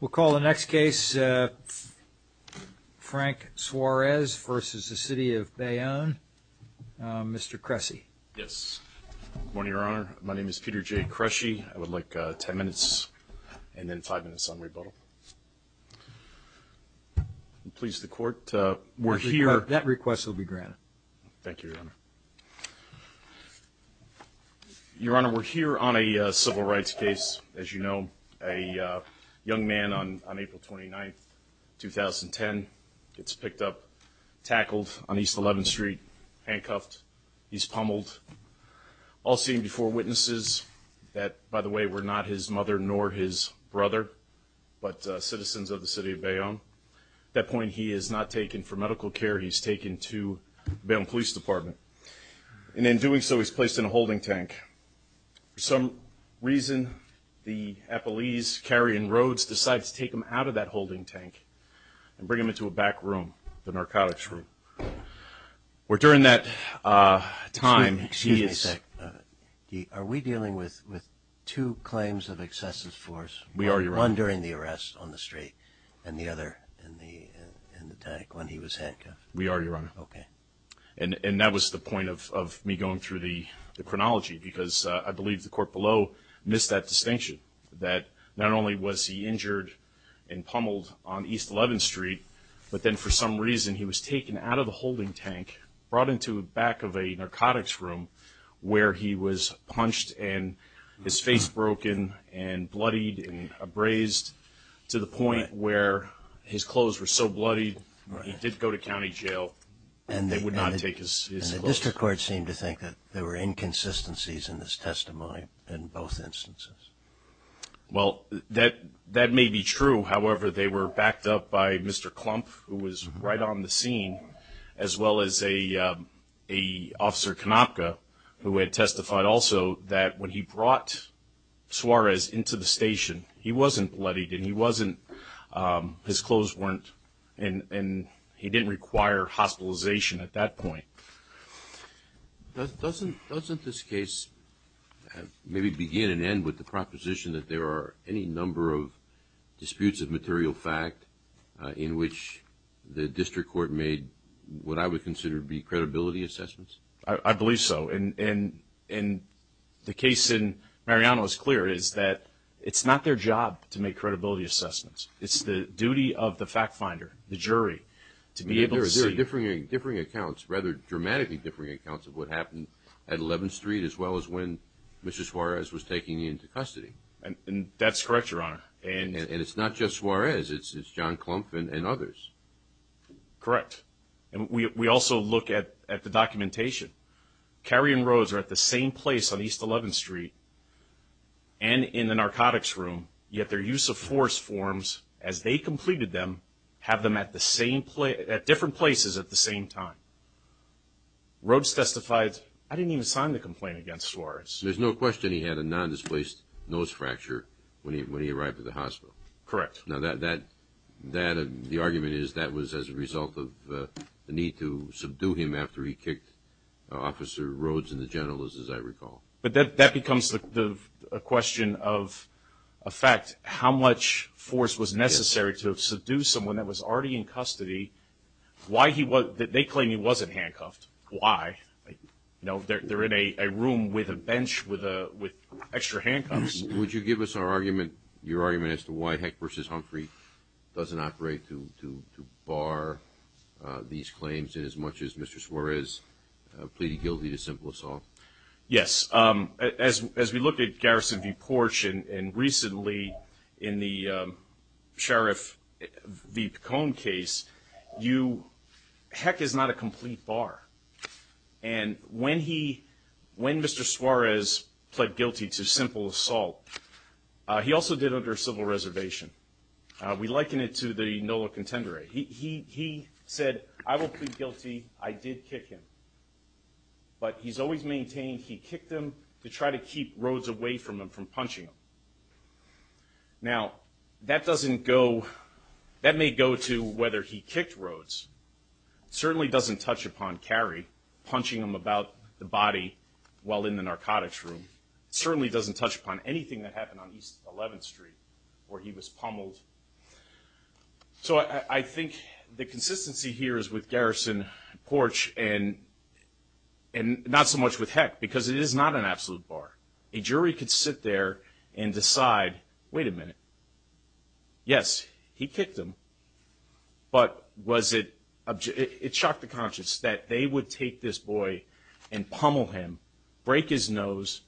We'll call the next case, Frank Suarez v. the City of Bayonne, Mr. Cressy. Yes. Good morning, Your Honor. My name is Peter J. Cressy. I would like 10 minutes and then 5 minutes on rebuttal. Please, the Court, we're here... That request will be granted. Thank you, Your Honor. Your Honor, we're here on a civil rights case, as you know. A young man on April 29, 2010 gets picked up, tackled on East 11th Street, handcuffed. He's pummeled. All seen before witnesses that, by the way, were not his mother nor his brother, but citizens of the City of Bayonne. At that point, he is not taken for medical care. He's taken to the Bayonne Police Department. And in doing so, he's placed in a holding tank. For some reason, the police carrying Rhodes decides to take him out of that holding tank and bring him into a back room, the narcotics room. Where during that time, he is... Excuse me a sec. Are we dealing with two claims of excessive force? We are, Your Honor. One during the arrest on the street, and the other in the tank when he was handcuffed. We are, Your Honor. Okay. And that was the point of me going through the chronology, because I believe the Court below missed that distinction. That not only was he injured and pummeled on East 11th Street, but then for some reason, he was taken out of the holding tank, brought into the back of a narcotics room, where he was punched and his face broken and bloodied and abrased, to the point where his clothes were so bloodied, he did go to county jail, and they would not take his clothes. And the District Court seemed to think that there were inconsistencies in his testimony in both instances. Well, that may be true. However, they were backed up by Mr. Klumpf, who was right on the scene, as well as an officer, Konopka, who had testified also that when he brought Suarez into the station, he wasn't bloodied and he wasn't... His clothes weren't... And he didn't require hospitalization at that point. Doesn't this case maybe begin and end with the proposition that there are any number of disputes of material fact in which the District Court made what I would consider to be credibility assessments? I believe so. And the case in Mariano is clear, is that it's not their job to make credibility assessments. It's the duty of the fact finder, the jury, to be able to see... rather dramatically differing accounts of what happened at 11th Street as well as when Mr. Suarez was taking him into custody. And that's correct, Your Honor. And it's not just Suarez. It's John Klumpf and others. Correct. And we also look at the documentation. Carrie and Rose are at the same place on East 11th Street and in the narcotics room, yet their use of force forms, as they completed them, have them at different places at the same time. Rose testified... I didn't even sign the complaint against Suarez. There's no question he had a non-displaced nose fracture when he arrived at the hospital. Correct. Now, the argument is that was as a result of the need to subdue him after he kicked Officer Rhodes and the general, as I recall. But that becomes a question of a fact. How much force was necessary to subdue someone that was already in custody? They claim he wasn't handcuffed. Why? They're in a room with a bench with extra handcuffs. Would you give us your argument as to why Heck v. Humphrey doesn't operate to bar these claims in as much as Mr. Suarez pleaded guilty to simple assault? Yes. As we looked at Garrison v. Porch and recently in the Sheriff v. Picone case, Heck is not a complete bar. And when Mr. Suarez pled guilty to simple assault, he also did it under a civil reservation. We liken it to the NOLA contender. He said, I will plead guilty. I did kick him. But he's always maintained he kicked him to try to keep Rhodes away from him from punching him. Now, that may go to whether he kicked Rhodes. It certainly doesn't touch upon Carrie punching him about the body while in the narcotics room. It certainly doesn't touch upon anything that happened on East 11th Street where he was pummeled. So I think the consistency here is with Garrison v. Porch and not so much with Heck, because it is not an absolute bar. A jury could sit there and decide, wait a minute, yes, he kicked him. But was it – it shocked the conscience that they would take this boy and pummel him, break his nose,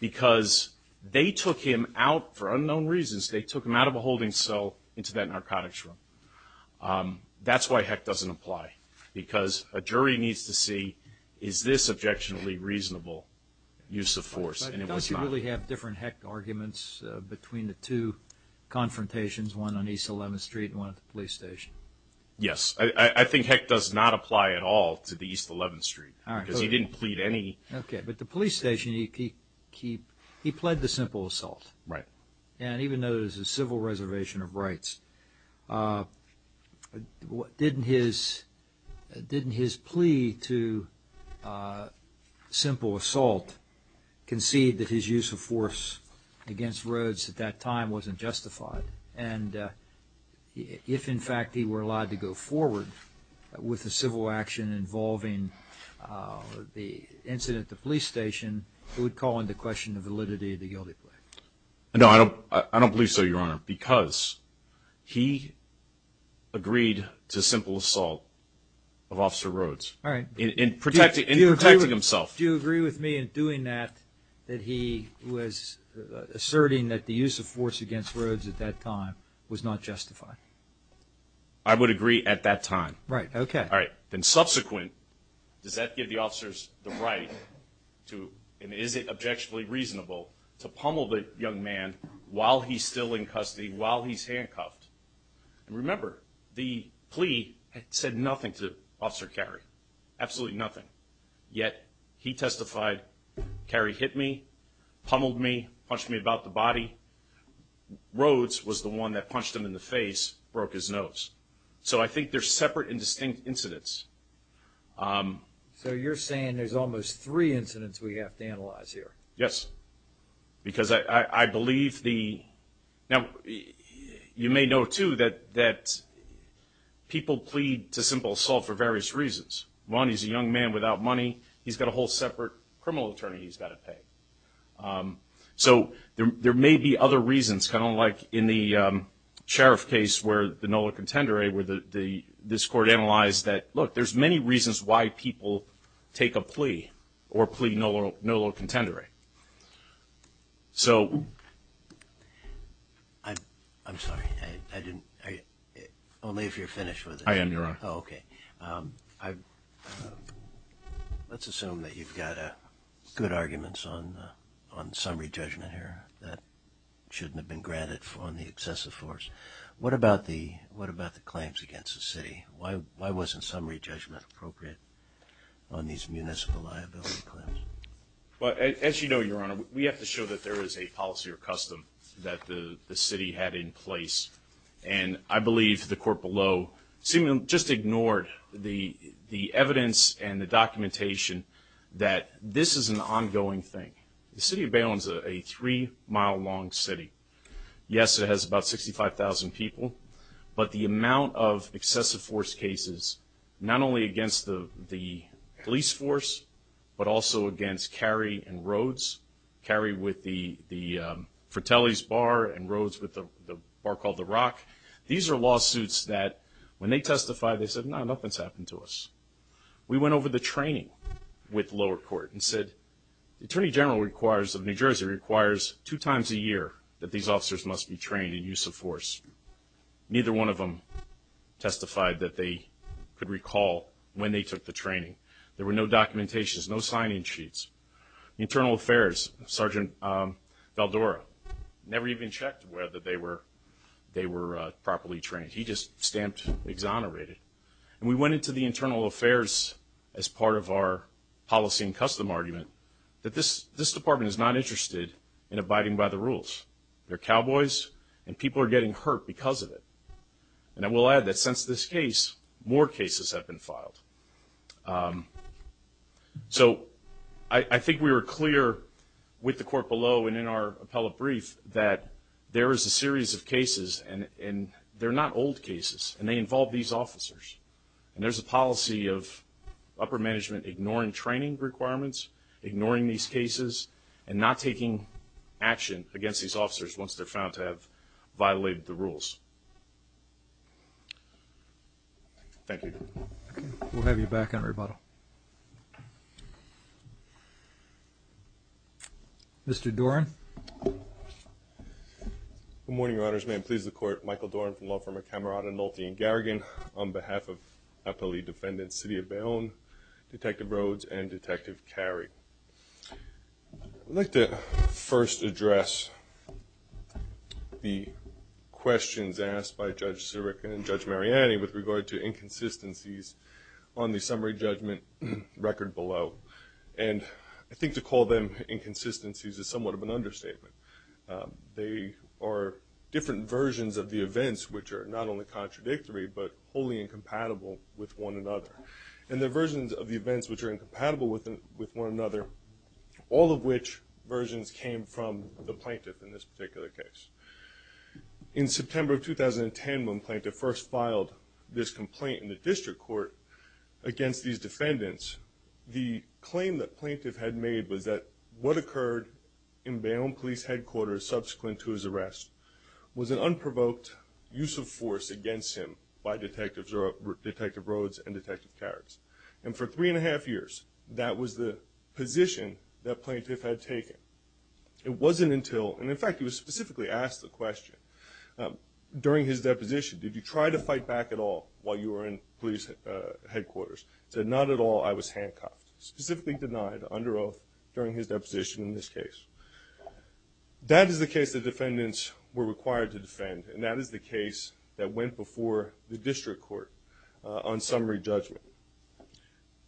because they took him out for unknown reasons. They took him out of a holding cell into that narcotics room. That's why Heck doesn't apply, because a jury needs to see, is this objectionably reasonable use of force, and it was not. But don't you really have different Heck arguments between the two confrontations, one on East 11th Street and one at the police station? Yes. I think Heck does not apply at all to the East 11th Street, because he didn't plead any. Okay. But the police station, he pled to simple assault. Right. And even though there's a civil reservation of rights, didn't his plea to simple assault concede that his use of force against Rhodes at that time wasn't justified? And if, in fact, he were allowed to go forward with a civil action involving the incident at the police station, it would call into question the validity of the guilty plea. No, I don't believe so, Your Honor, because he agreed to simple assault of Officer Rhodes. All right. In protecting himself. Do you agree with me in doing that that he was asserting that the use of force against Rhodes at that time was not justified? I would agree at that time. Right. Okay. All right. Then subsequent, does that give the officers the right to, and is it objectionably reasonable, to pummel the young man while he's still in custody, while he's handcuffed? Remember, the plea said nothing to Officer Carey, absolutely nothing. Yet he testified, Carey hit me, pummeled me, punched me about the body. Rhodes was the one that punched him in the face, broke his nose. So I think they're separate and distinct incidents. So you're saying there's almost three incidents we have to analyze here? Yes, because I believe the – now, you may know, too, that people plead to simple assault for various reasons. One, he's a young man without money. He's got a whole separate criminal attorney he's got to pay. So there may be other reasons, kind of like in the sheriff case where the NOLA contendere, where this court analyzed that, look, there's many reasons why people take a plea or plea NOLA contendere. So – I'm sorry, I didn't – only if you're finished with it. I am, Your Honor. Okay. Let's assume that you've got good arguments on summary judgment here that shouldn't have been granted on the excessive force. What about the claims against the city? Why wasn't summary judgment appropriate on these municipal liability claims? Well, as you know, Your Honor, we have to show that there is a policy or custom that the city had in place. And I believe the court below just ignored the evidence and the documentation that this is an ongoing thing. The city of Baywood is a three-mile-long city. Yes, it has about 65,000 people, but the amount of excessive force cases, not only against the police force, but also against carry and roads, carry with the Fratelli's Bar and roads with the bar called The Rock, these are lawsuits that when they testified, they said, no, nothing's happened to us. We went over the training with lower court and said, the Attorney General requires – of New Jersey requires two times a year that these officers must be trained in use of force. Neither one of them testified that they could recall when they took the training. There were no documentations, no sign-in sheets. The Internal Affairs, Sergeant Valdora, never even checked whether they were properly trained. He just stamped exonerated. And we went into the Internal Affairs as part of our policy and custom argument that this department is not interested in abiding by the rules. They're cowboys, and people are getting hurt because of it. And I will add that since this case, more cases have been filed. So I think we were clear with the court below and in our appellate brief that there is a series of cases, and they're not old cases, and they involve these officers. And there's a policy of upper management ignoring training requirements, ignoring these cases, and not taking action against these officers once they're found to have violated the rules. Thank you. Okay. We'll have you back on rebuttal. Mr. Doran. Good morning, Your Honors. May it please the Court, Michael Doran from the law firm of Camerata, Nolte & Garrigan, on behalf of appellate defendants, City of Bayonne, Detective Rhodes, and Detective Carey. I'd like to first address the questions asked by Judge Sirican and Judge Mariani with regard to inconsistencies on the summary judgment record below. And I think to call them inconsistencies is somewhat of an understatement. They are different versions of the events which are not only contradictory but wholly incompatible with one another. And they're versions of the events which are incompatible with one another, all of which versions came from the plaintiff in this particular case. In September of 2010, when the plaintiff first filed this complaint in the district court against these defendants, the claim the plaintiff had made was that what occurred in Bayonne Police Headquarters subsequent to his arrest was an unprovoked use of force against him by Detective Rhodes and Detective Carey. And for three and a half years, that was the position that plaintiff had taken. It wasn't until, and in fact he was specifically asked the question during his deposition, did you try to fight back at all while you were in police headquarters? He said, not at all. I was handcuffed. Specifically denied under oath during his deposition in this case. That is the case the defendants were required to defend, and that is the case that went before the district court on summary judgment.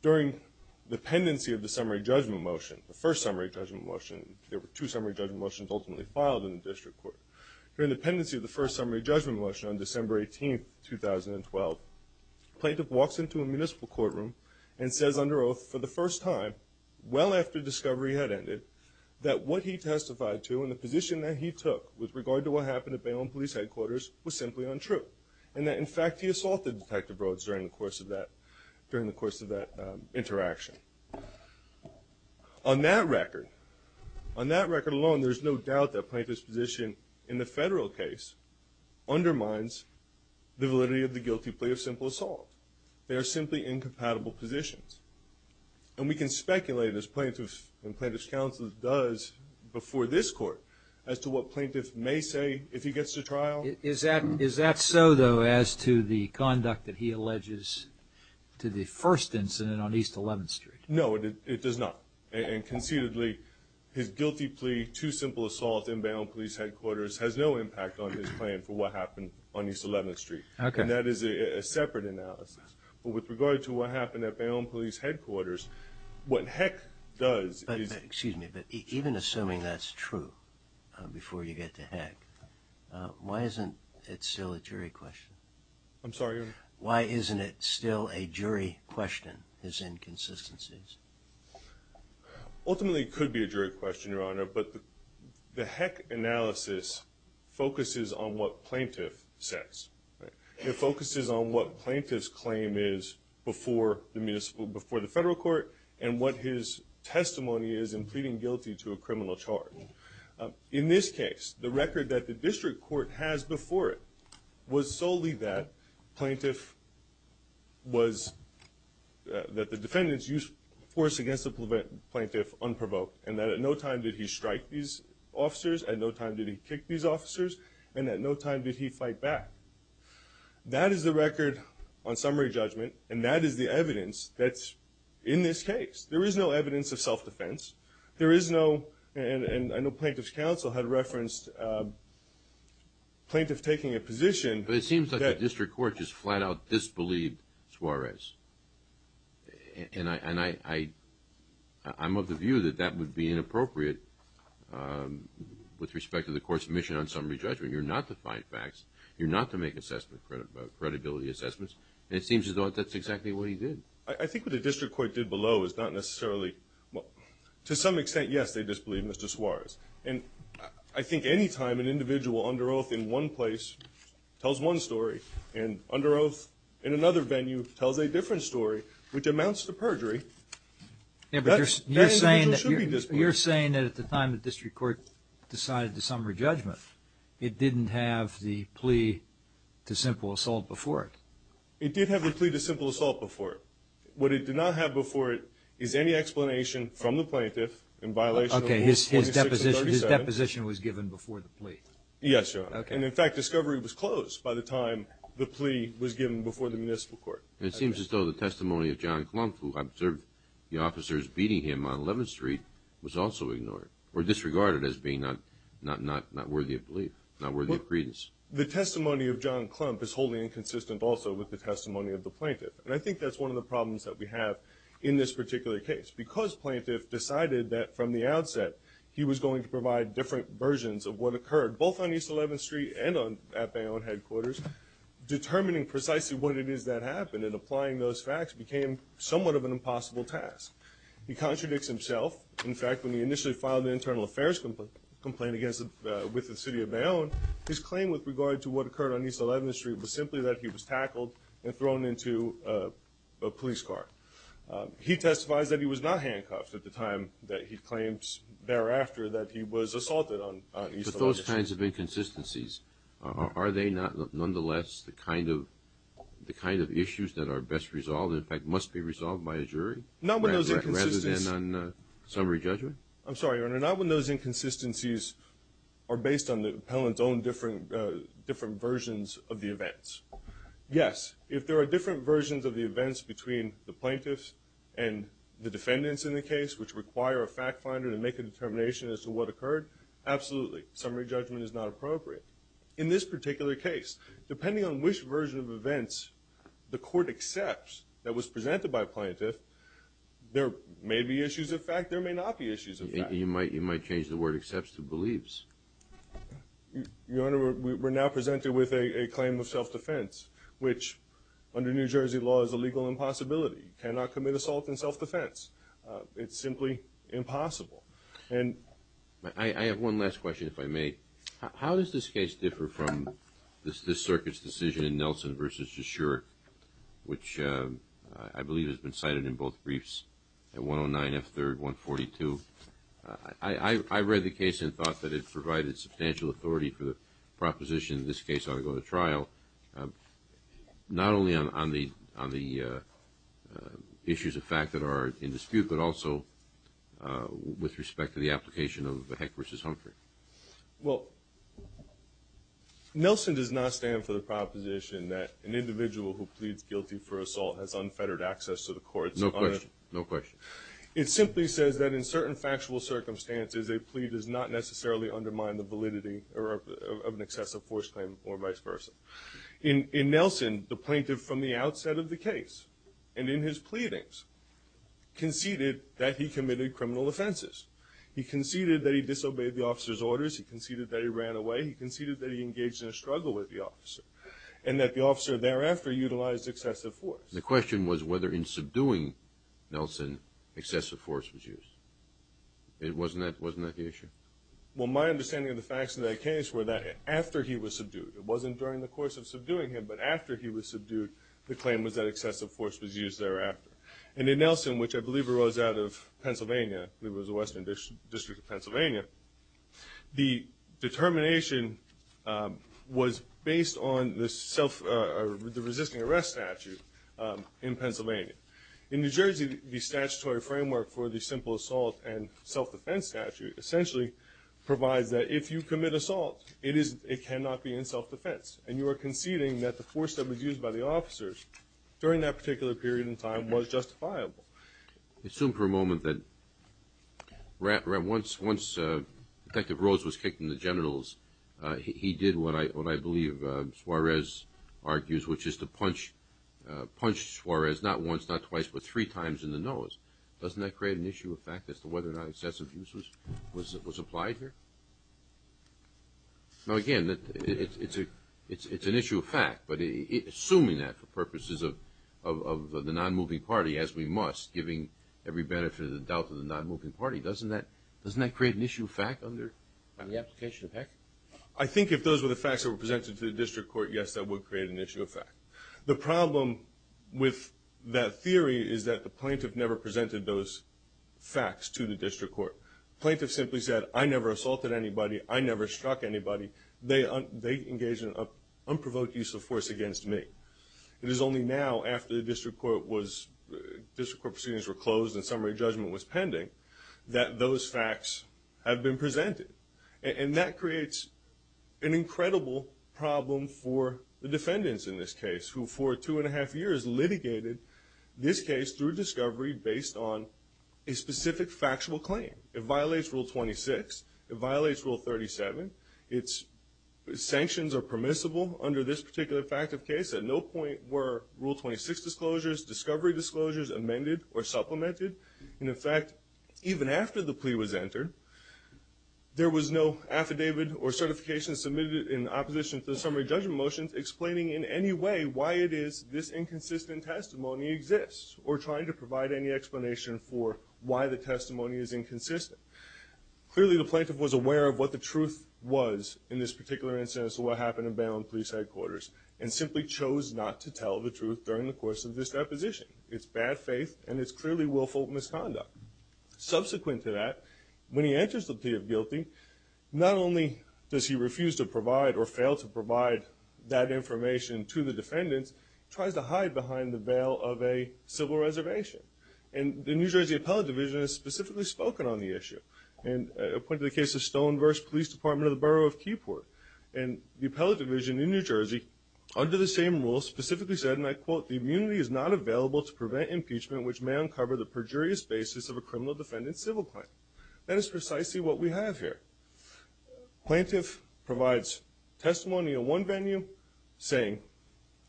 During the pendency of the summary judgment motion, the first summary judgment motion, there were two summary judgment motions ultimately filed in the district court. During the pendency of the first summary judgment motion on December 18, 2012, the plaintiff walks into a municipal courtroom and says under oath for the first time, well after discovery had ended, that what he testified to and the position that he took with regard to what happened at Bayonne Police Headquarters was simply untrue. And that in fact he assaulted Detective Rhodes during the course of that interaction. On that record, on that record alone, there's no doubt that plaintiff's position in the federal case undermines the validity of the guilty plea of simple assault. They are simply incompatible positions. And we can speculate, as plaintiffs and plaintiffs' counsels does before this court, as to what plaintiffs may say if he gets to trial. Is that so, though, as to the conduct that he alleges to the first incident on East 11th Street? No, it does not. And concededly, his guilty plea to simple assault in Bayonne Police Headquarters has no impact on his plan for what happened on East 11th Street. And that is a separate analysis. But with regard to what happened at Bayonne Police Headquarters, what Heck does is Excuse me, but even assuming that's true before you get to Heck, why isn't it still a jury question? I'm sorry, Your Honor? Why isn't it still a jury question, his inconsistencies? Ultimately, it could be a jury question, Your Honor, but the Heck analysis focuses on what plaintiff says. It focuses on what plaintiff's claim is before the federal court and what his testimony is in pleading guilty to a criminal charge. In this case, the record that the district court has before it was solely that plaintiff was that the defendants used force against the plaintiff unprovoked and that at no time did he strike these officers, at no time did he kick these officers, and at no time did he fight back. That is the record on summary judgment, and that is the evidence that's in this case. There is no evidence of self-defense. There is no, and I know Plaintiff's Counsel had referenced plaintiff taking a position. But it seems like the district court just flat-out disbelieved Suarez. And I'm of the view that that would be inappropriate with respect to the court's mission on summary judgment. You're not to find facts. You're not to make credibility assessments, and it seems as though that's exactly what he did. I think what the district court did below is not necessarily, to some extent, yes, they disbelieved Mr. Suarez. And I think any time an individual under oath in one place tells one story and under oath in another venue tells a different story, which amounts to perjury, that individual should be disbelieved. You're saying that at the time the district court decided the summary judgment, it didn't have the plea to simple assault before it. It did have the plea to simple assault before it. What it did not have before it is any explanation from the plaintiff in violation of Rules 46 and 37. Okay, his deposition was given before the plea. Yes, Your Honor. And, in fact, discovery was closed by the time the plea was given before the municipal court. It seems as though the testimony of John Klump, who observed the officers beating him on 11th Street, was also ignored or disregarded as being not worthy of belief, not worthy of credence. The testimony of John Klump is wholly inconsistent also with the testimony of the plaintiff. And I think that's one of the problems that we have in this particular case. Because plaintiff decided that from the outset he was going to provide different versions of what occurred, both on East 11th Street and at Bayonne headquarters, determining precisely what it is that happened and applying those facts became somewhat of an impossible task. He contradicts himself. In fact, when he initially filed an internal affairs complaint with the city of Bayonne, his claim with regard to what occurred on East 11th Street was simply that he was tackled and thrown into a police car. He testifies that he was not handcuffed at the time that he claims thereafter that he was assaulted on East 11th Street. But those kinds of inconsistencies, are they nonetheless the kind of issues that are best resolved and in fact must be resolved by a jury rather than on summary judgment? I'm sorry, Your Honor. Not when those inconsistencies are based on the appellant's own different versions of the events. Yes, if there are different versions of the events between the plaintiffs and the defendants in the case which require a fact finder to make a determination as to what occurred, absolutely. Summary judgment is not appropriate. In this particular case, depending on which version of events the court accepts that was presented by a plaintiff, there may be issues of fact, there may not be issues of fact. You might change the word accepts to believes. Your Honor, we're now presented with a claim of self-defense, which under New Jersey law is a legal impossibility. You cannot commit assault in self-defense. It's simply impossible. I have one last question, if I may. How does this case differ from this circuit's decision in Nelson v. Cheshire, which I believe has been cited in both briefs at 109 F. 3rd, 142? I read the case and thought that it provided substantial authority for the proposition in this case ought to go to trial, not only on the issues of fact that are in dispute, but also with respect to the application of Heck v. Humphrey. Well, Nelson does not stand for the proposition that an individual who pleads guilty for assault has unfettered access to the courts. No question. No question. It simply says that in certain factual circumstances, a plea does not necessarily undermine the validity of an excessive force claim or vice versa. In Nelson, the plaintiff from the outset of the case and in his pleadings conceded that he committed criminal offenses. He conceded that he disobeyed the officer's orders. He conceded that he ran away. He conceded that he engaged in a struggle with the officer and that the officer thereafter utilized excessive force. The question was whether in subduing Nelson, excessive force was used. Wasn't that the issue? Well, my understanding of the facts in that case were that after he was subdued, it wasn't during the course of subduing him, but after he was subdued, the claim was that excessive force was used thereafter. And in Nelson, which I believe arose out of Pennsylvania, it was the Western District of Pennsylvania, the determination was based on the resisting arrest statute in Pennsylvania. In New Jersey, the statutory framework for the simple assault and self-defense statute essentially provides that if you commit assault, it cannot be in self-defense, and you are conceding that the force that was used by the officers during that particular period in time was justifiable. Assume for a moment that once Detective Rose was kicked in the genitals, he did what I believe Suarez argues, which is to punch Suarez not once, not twice, but three times in the nose. Doesn't that create an issue of fact as to whether or not excessive use was applied here? Now, again, it's an issue of fact, but assuming that for purposes of the non-moving party, as we must, giving every benefit of the doubt to the non-moving party, doesn't that create an issue of fact under the application of HEC? I think if those were the facts that were presented to the district court, yes, that would create an issue of fact. The problem with that theory is that the plaintiff never presented those facts to the district court. The plaintiff simply said, I never assaulted anybody, I never struck anybody, they engaged in an unprovoked use of force against me. It is only now, after the district court proceedings were closed and summary judgment was pending, that those facts have been presented. And that creates an incredible problem for the defendants in this case, who for two and a half years litigated this case through discovery based on a specific factual claim. It violates Rule 26. It violates Rule 37. Its sanctions are permissible under this particular fact of case. At no point were Rule 26 disclosures, discovery disclosures amended or supplemented. And in fact, even after the plea was entered, there was no affidavit or certification submitted in opposition to the summary judgment motions explaining in any way why it is this inconsistent testimony exists or trying to provide any explanation for why the testimony is inconsistent. Clearly, the plaintiff was aware of what the truth was in this particular instance of what happened at Baylon Police Headquarters and simply chose not to tell the truth during the course of this deposition. It's bad faith and it's clearly willful misconduct. Subsequent to that, when he enters the plea of guilty, not only does he refuse to provide or fail to provide that information to the defendants, he tries to hide behind the veil of a civil reservation. And the New Jersey Appellate Division has specifically spoken on the issue. And a point to the case of Stone vs. Police Department of the Borough of Keyport. And the Appellate Division in New Jersey, under the same rules, specifically said, and I quote, the immunity is not available to prevent impeachment, which may uncover the perjurious basis of a criminal defendant's civil claim. That is precisely what we have here. Plaintiff provides testimony in one venue saying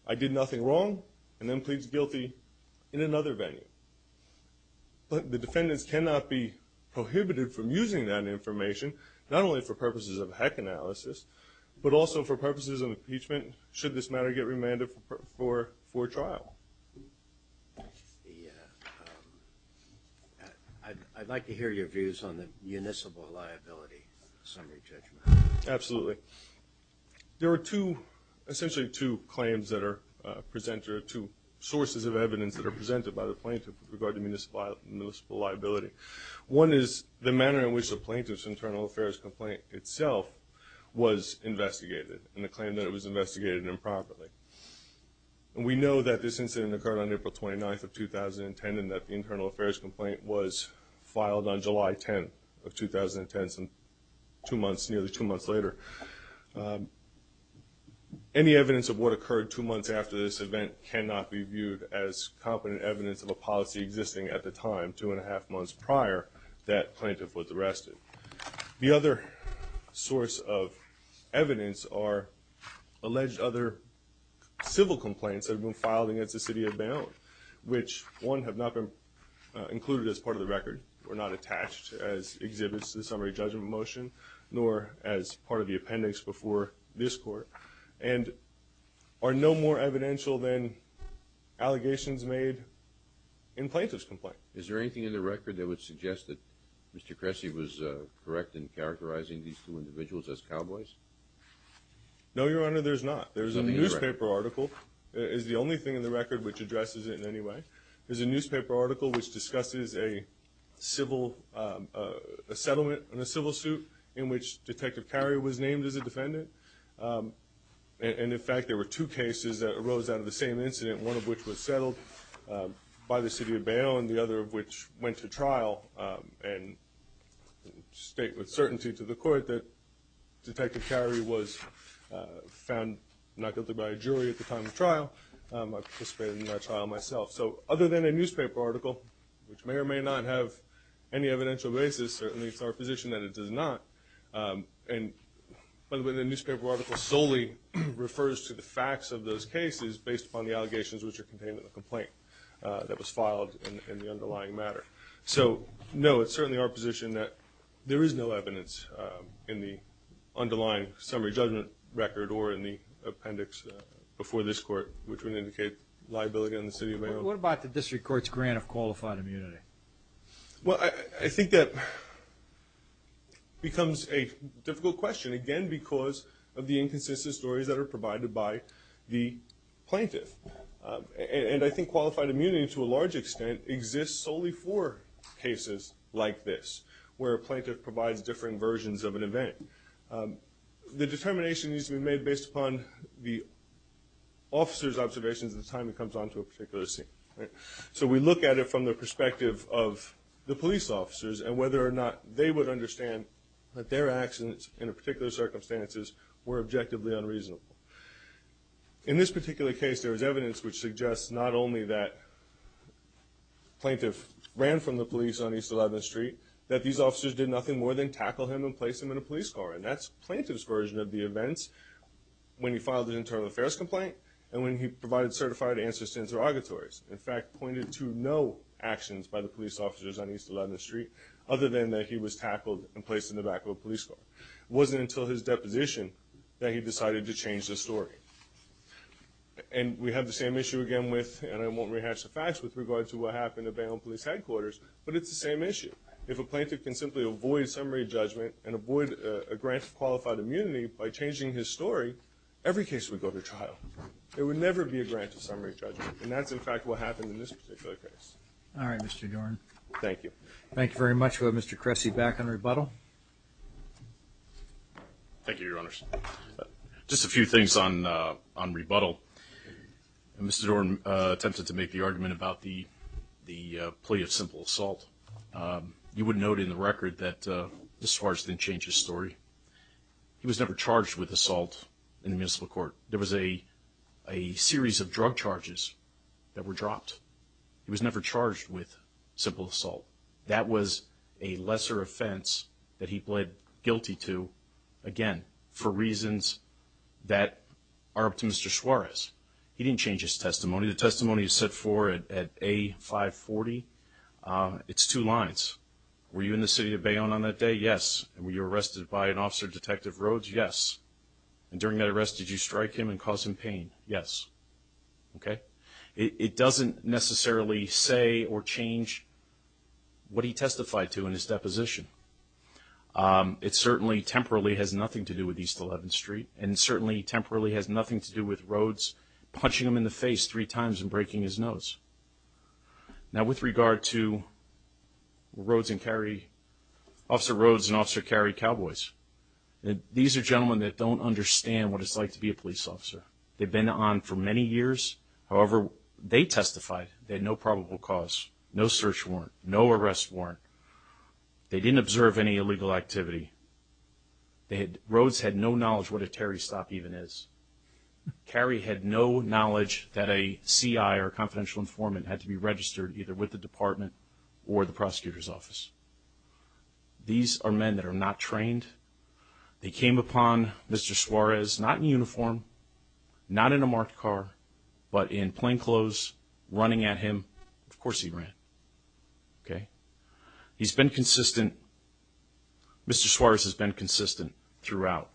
I did nothing wrong and then pleads guilty in another venue. But the defendants cannot be prohibited from using that information, not only for purposes of hack analysis, but also for purposes of impeachment, should this matter get remanded for trial. I'd like to hear your views on the municipal liability summary judgment. Absolutely. There are essentially two claims that are presented, or two sources of evidence that are presented by the plaintiff with regard to municipal liability. One is the manner in which the plaintiff's internal affairs complaint itself was investigated and the claim that it was investigated improperly. And we know that this incident occurred on April 29th of 2010 and that the internal affairs complaint was filed on July 10th of 2010, so two months, nearly two months later. Any evidence of what occurred two months after this event cannot be viewed as competent evidence of a policy existing at the time, two and a half months prior that plaintiff was arrested. The other source of evidence are alleged other civil complaints that have been filed against the city of Bayonne, which, one, have not been included as part of the record or not attached as exhibits to the summary judgment motion, nor as part of the appendix before this court, and are no more evidential than allegations made in plaintiff's complaint. Is there anything in the record that would suggest that Mr. Cressy was correct in characterizing these two individuals as cowboys? No, Your Honor, there's not. There's a newspaper article. It's the only thing in the record which addresses it in any way. There's a newspaper article which discusses a settlement in a civil suit in which Detective Carey was named as a defendant. And, in fact, there were two cases that arose out of the same incident, one of which was settled by the city of Bayonne, the other of which went to trial and state with certainty to the court that Detective Carey was found not guilty by a jury at the time of trial. I participated in that trial myself. So other than a newspaper article, which may or may not have any evidential basis, certainly it's our position that it does not. And, by the way, the newspaper article solely refers to the facts of those cases based upon the allegations which are contained in the complaint that was filed in the underlying matter. So, no, it's certainly our position that there is no evidence in the underlying summary judgment record or in the appendix before this court which would indicate liability on the city of Bayonne. What about the district court's grant of qualified immunity? Well, I think that becomes a difficult question, again, because of the inconsistent stories that are provided by the plaintiff. And I think qualified immunity, to a large extent, exists solely for cases like this, where a plaintiff provides differing versions of an event. The determination needs to be made based upon the officer's observations at the time it comes onto a particular scene. So we look at it from the perspective of the police officers and whether or not they would understand that their actions in a particular circumstances were objectively unreasonable. In this particular case, there is evidence which suggests not only that the plaintiff ran from the police on East 11th Street, that these officers did nothing more than tackle him and place him in a police car. And that's the plaintiff's version of the events when he filed an internal affairs complaint and when he provided certified answers to interrogatories. In fact, pointed to no actions by the police officers on East 11th Street, other than that he was tackled and placed in the back of a police car. It wasn't until his deposition that he decided to change the story. And we have the same issue again with, and I won't rehash the facts, with regard to what happened at Bayonne Police Headquarters, but it's the same issue. If a plaintiff can simply avoid summary judgment and avoid a grant of qualified immunity by changing his story, every case would go to trial. There would never be a grant of summary judgment. And that's, in fact, what happened in this particular case. All right, Mr. Dorn. Thank you. Thank you very much. We'll have Mr. Cressy back on rebuttal. Thank you, Your Honors. Just a few things on rebuttal. Mr. Dorn attempted to make the argument about the plea of simple assault. You would note in the record that Mr. Schwartz didn't change his story. He was never charged with assault in the municipal court. There was a series of drug charges that were dropped. He was never charged with simple assault. That was a lesser offense that he pled guilty to, again, for reasons that are up to Mr. Suarez. He didn't change his testimony. The testimony is set forth at A540. It's two lines. Were you in the city of Bayonne on that day? Yes. And were you arrested by an officer, Detective Rhodes? Yes. And during that arrest, did you strike him and cause him pain? Yes. Okay? It doesn't necessarily say or change what he testified to in his deposition. It certainly temporarily has nothing to do with East 11th Street and certainly temporarily has nothing to do with Rhodes punching him in the face three times and breaking his nose. Now, with regard to Officer Rhodes and Officer Carey Cowboys, these are gentlemen that don't understand what it's like to be a police officer. They've been on for many years. However, they testified they had no probable cause, no search warrant, no arrest warrant. They didn't observe any illegal activity. Rhodes had no knowledge what a Terry stop even is. Carey had no knowledge that a CI or a confidential informant had to be registered either with the department or the prosecutor's office. These are men that are not trained. They came upon Mr. Suarez not in uniform, not in a marked car, but in plain clothes, running at him. Of course he ran, okay? He's been consistent. Mr. Suarez has been consistent throughout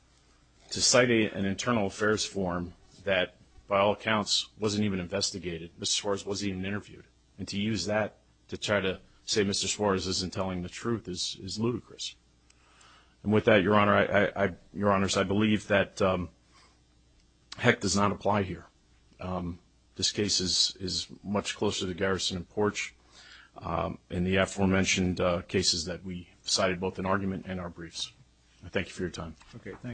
to cite an internal affairs form that, by all accounts, wasn't even investigated. Mr. Suarez wasn't even interviewed. And to use that to try to say Mr. Suarez isn't telling the truth is ludicrous. And with that, Your Honor, Your Honors, I believe that heck does not apply here. This case is much closer to garrison and porch in the aforementioned cases that we cited, both in argument and our briefs. I thank you for your time. Okay, thanks.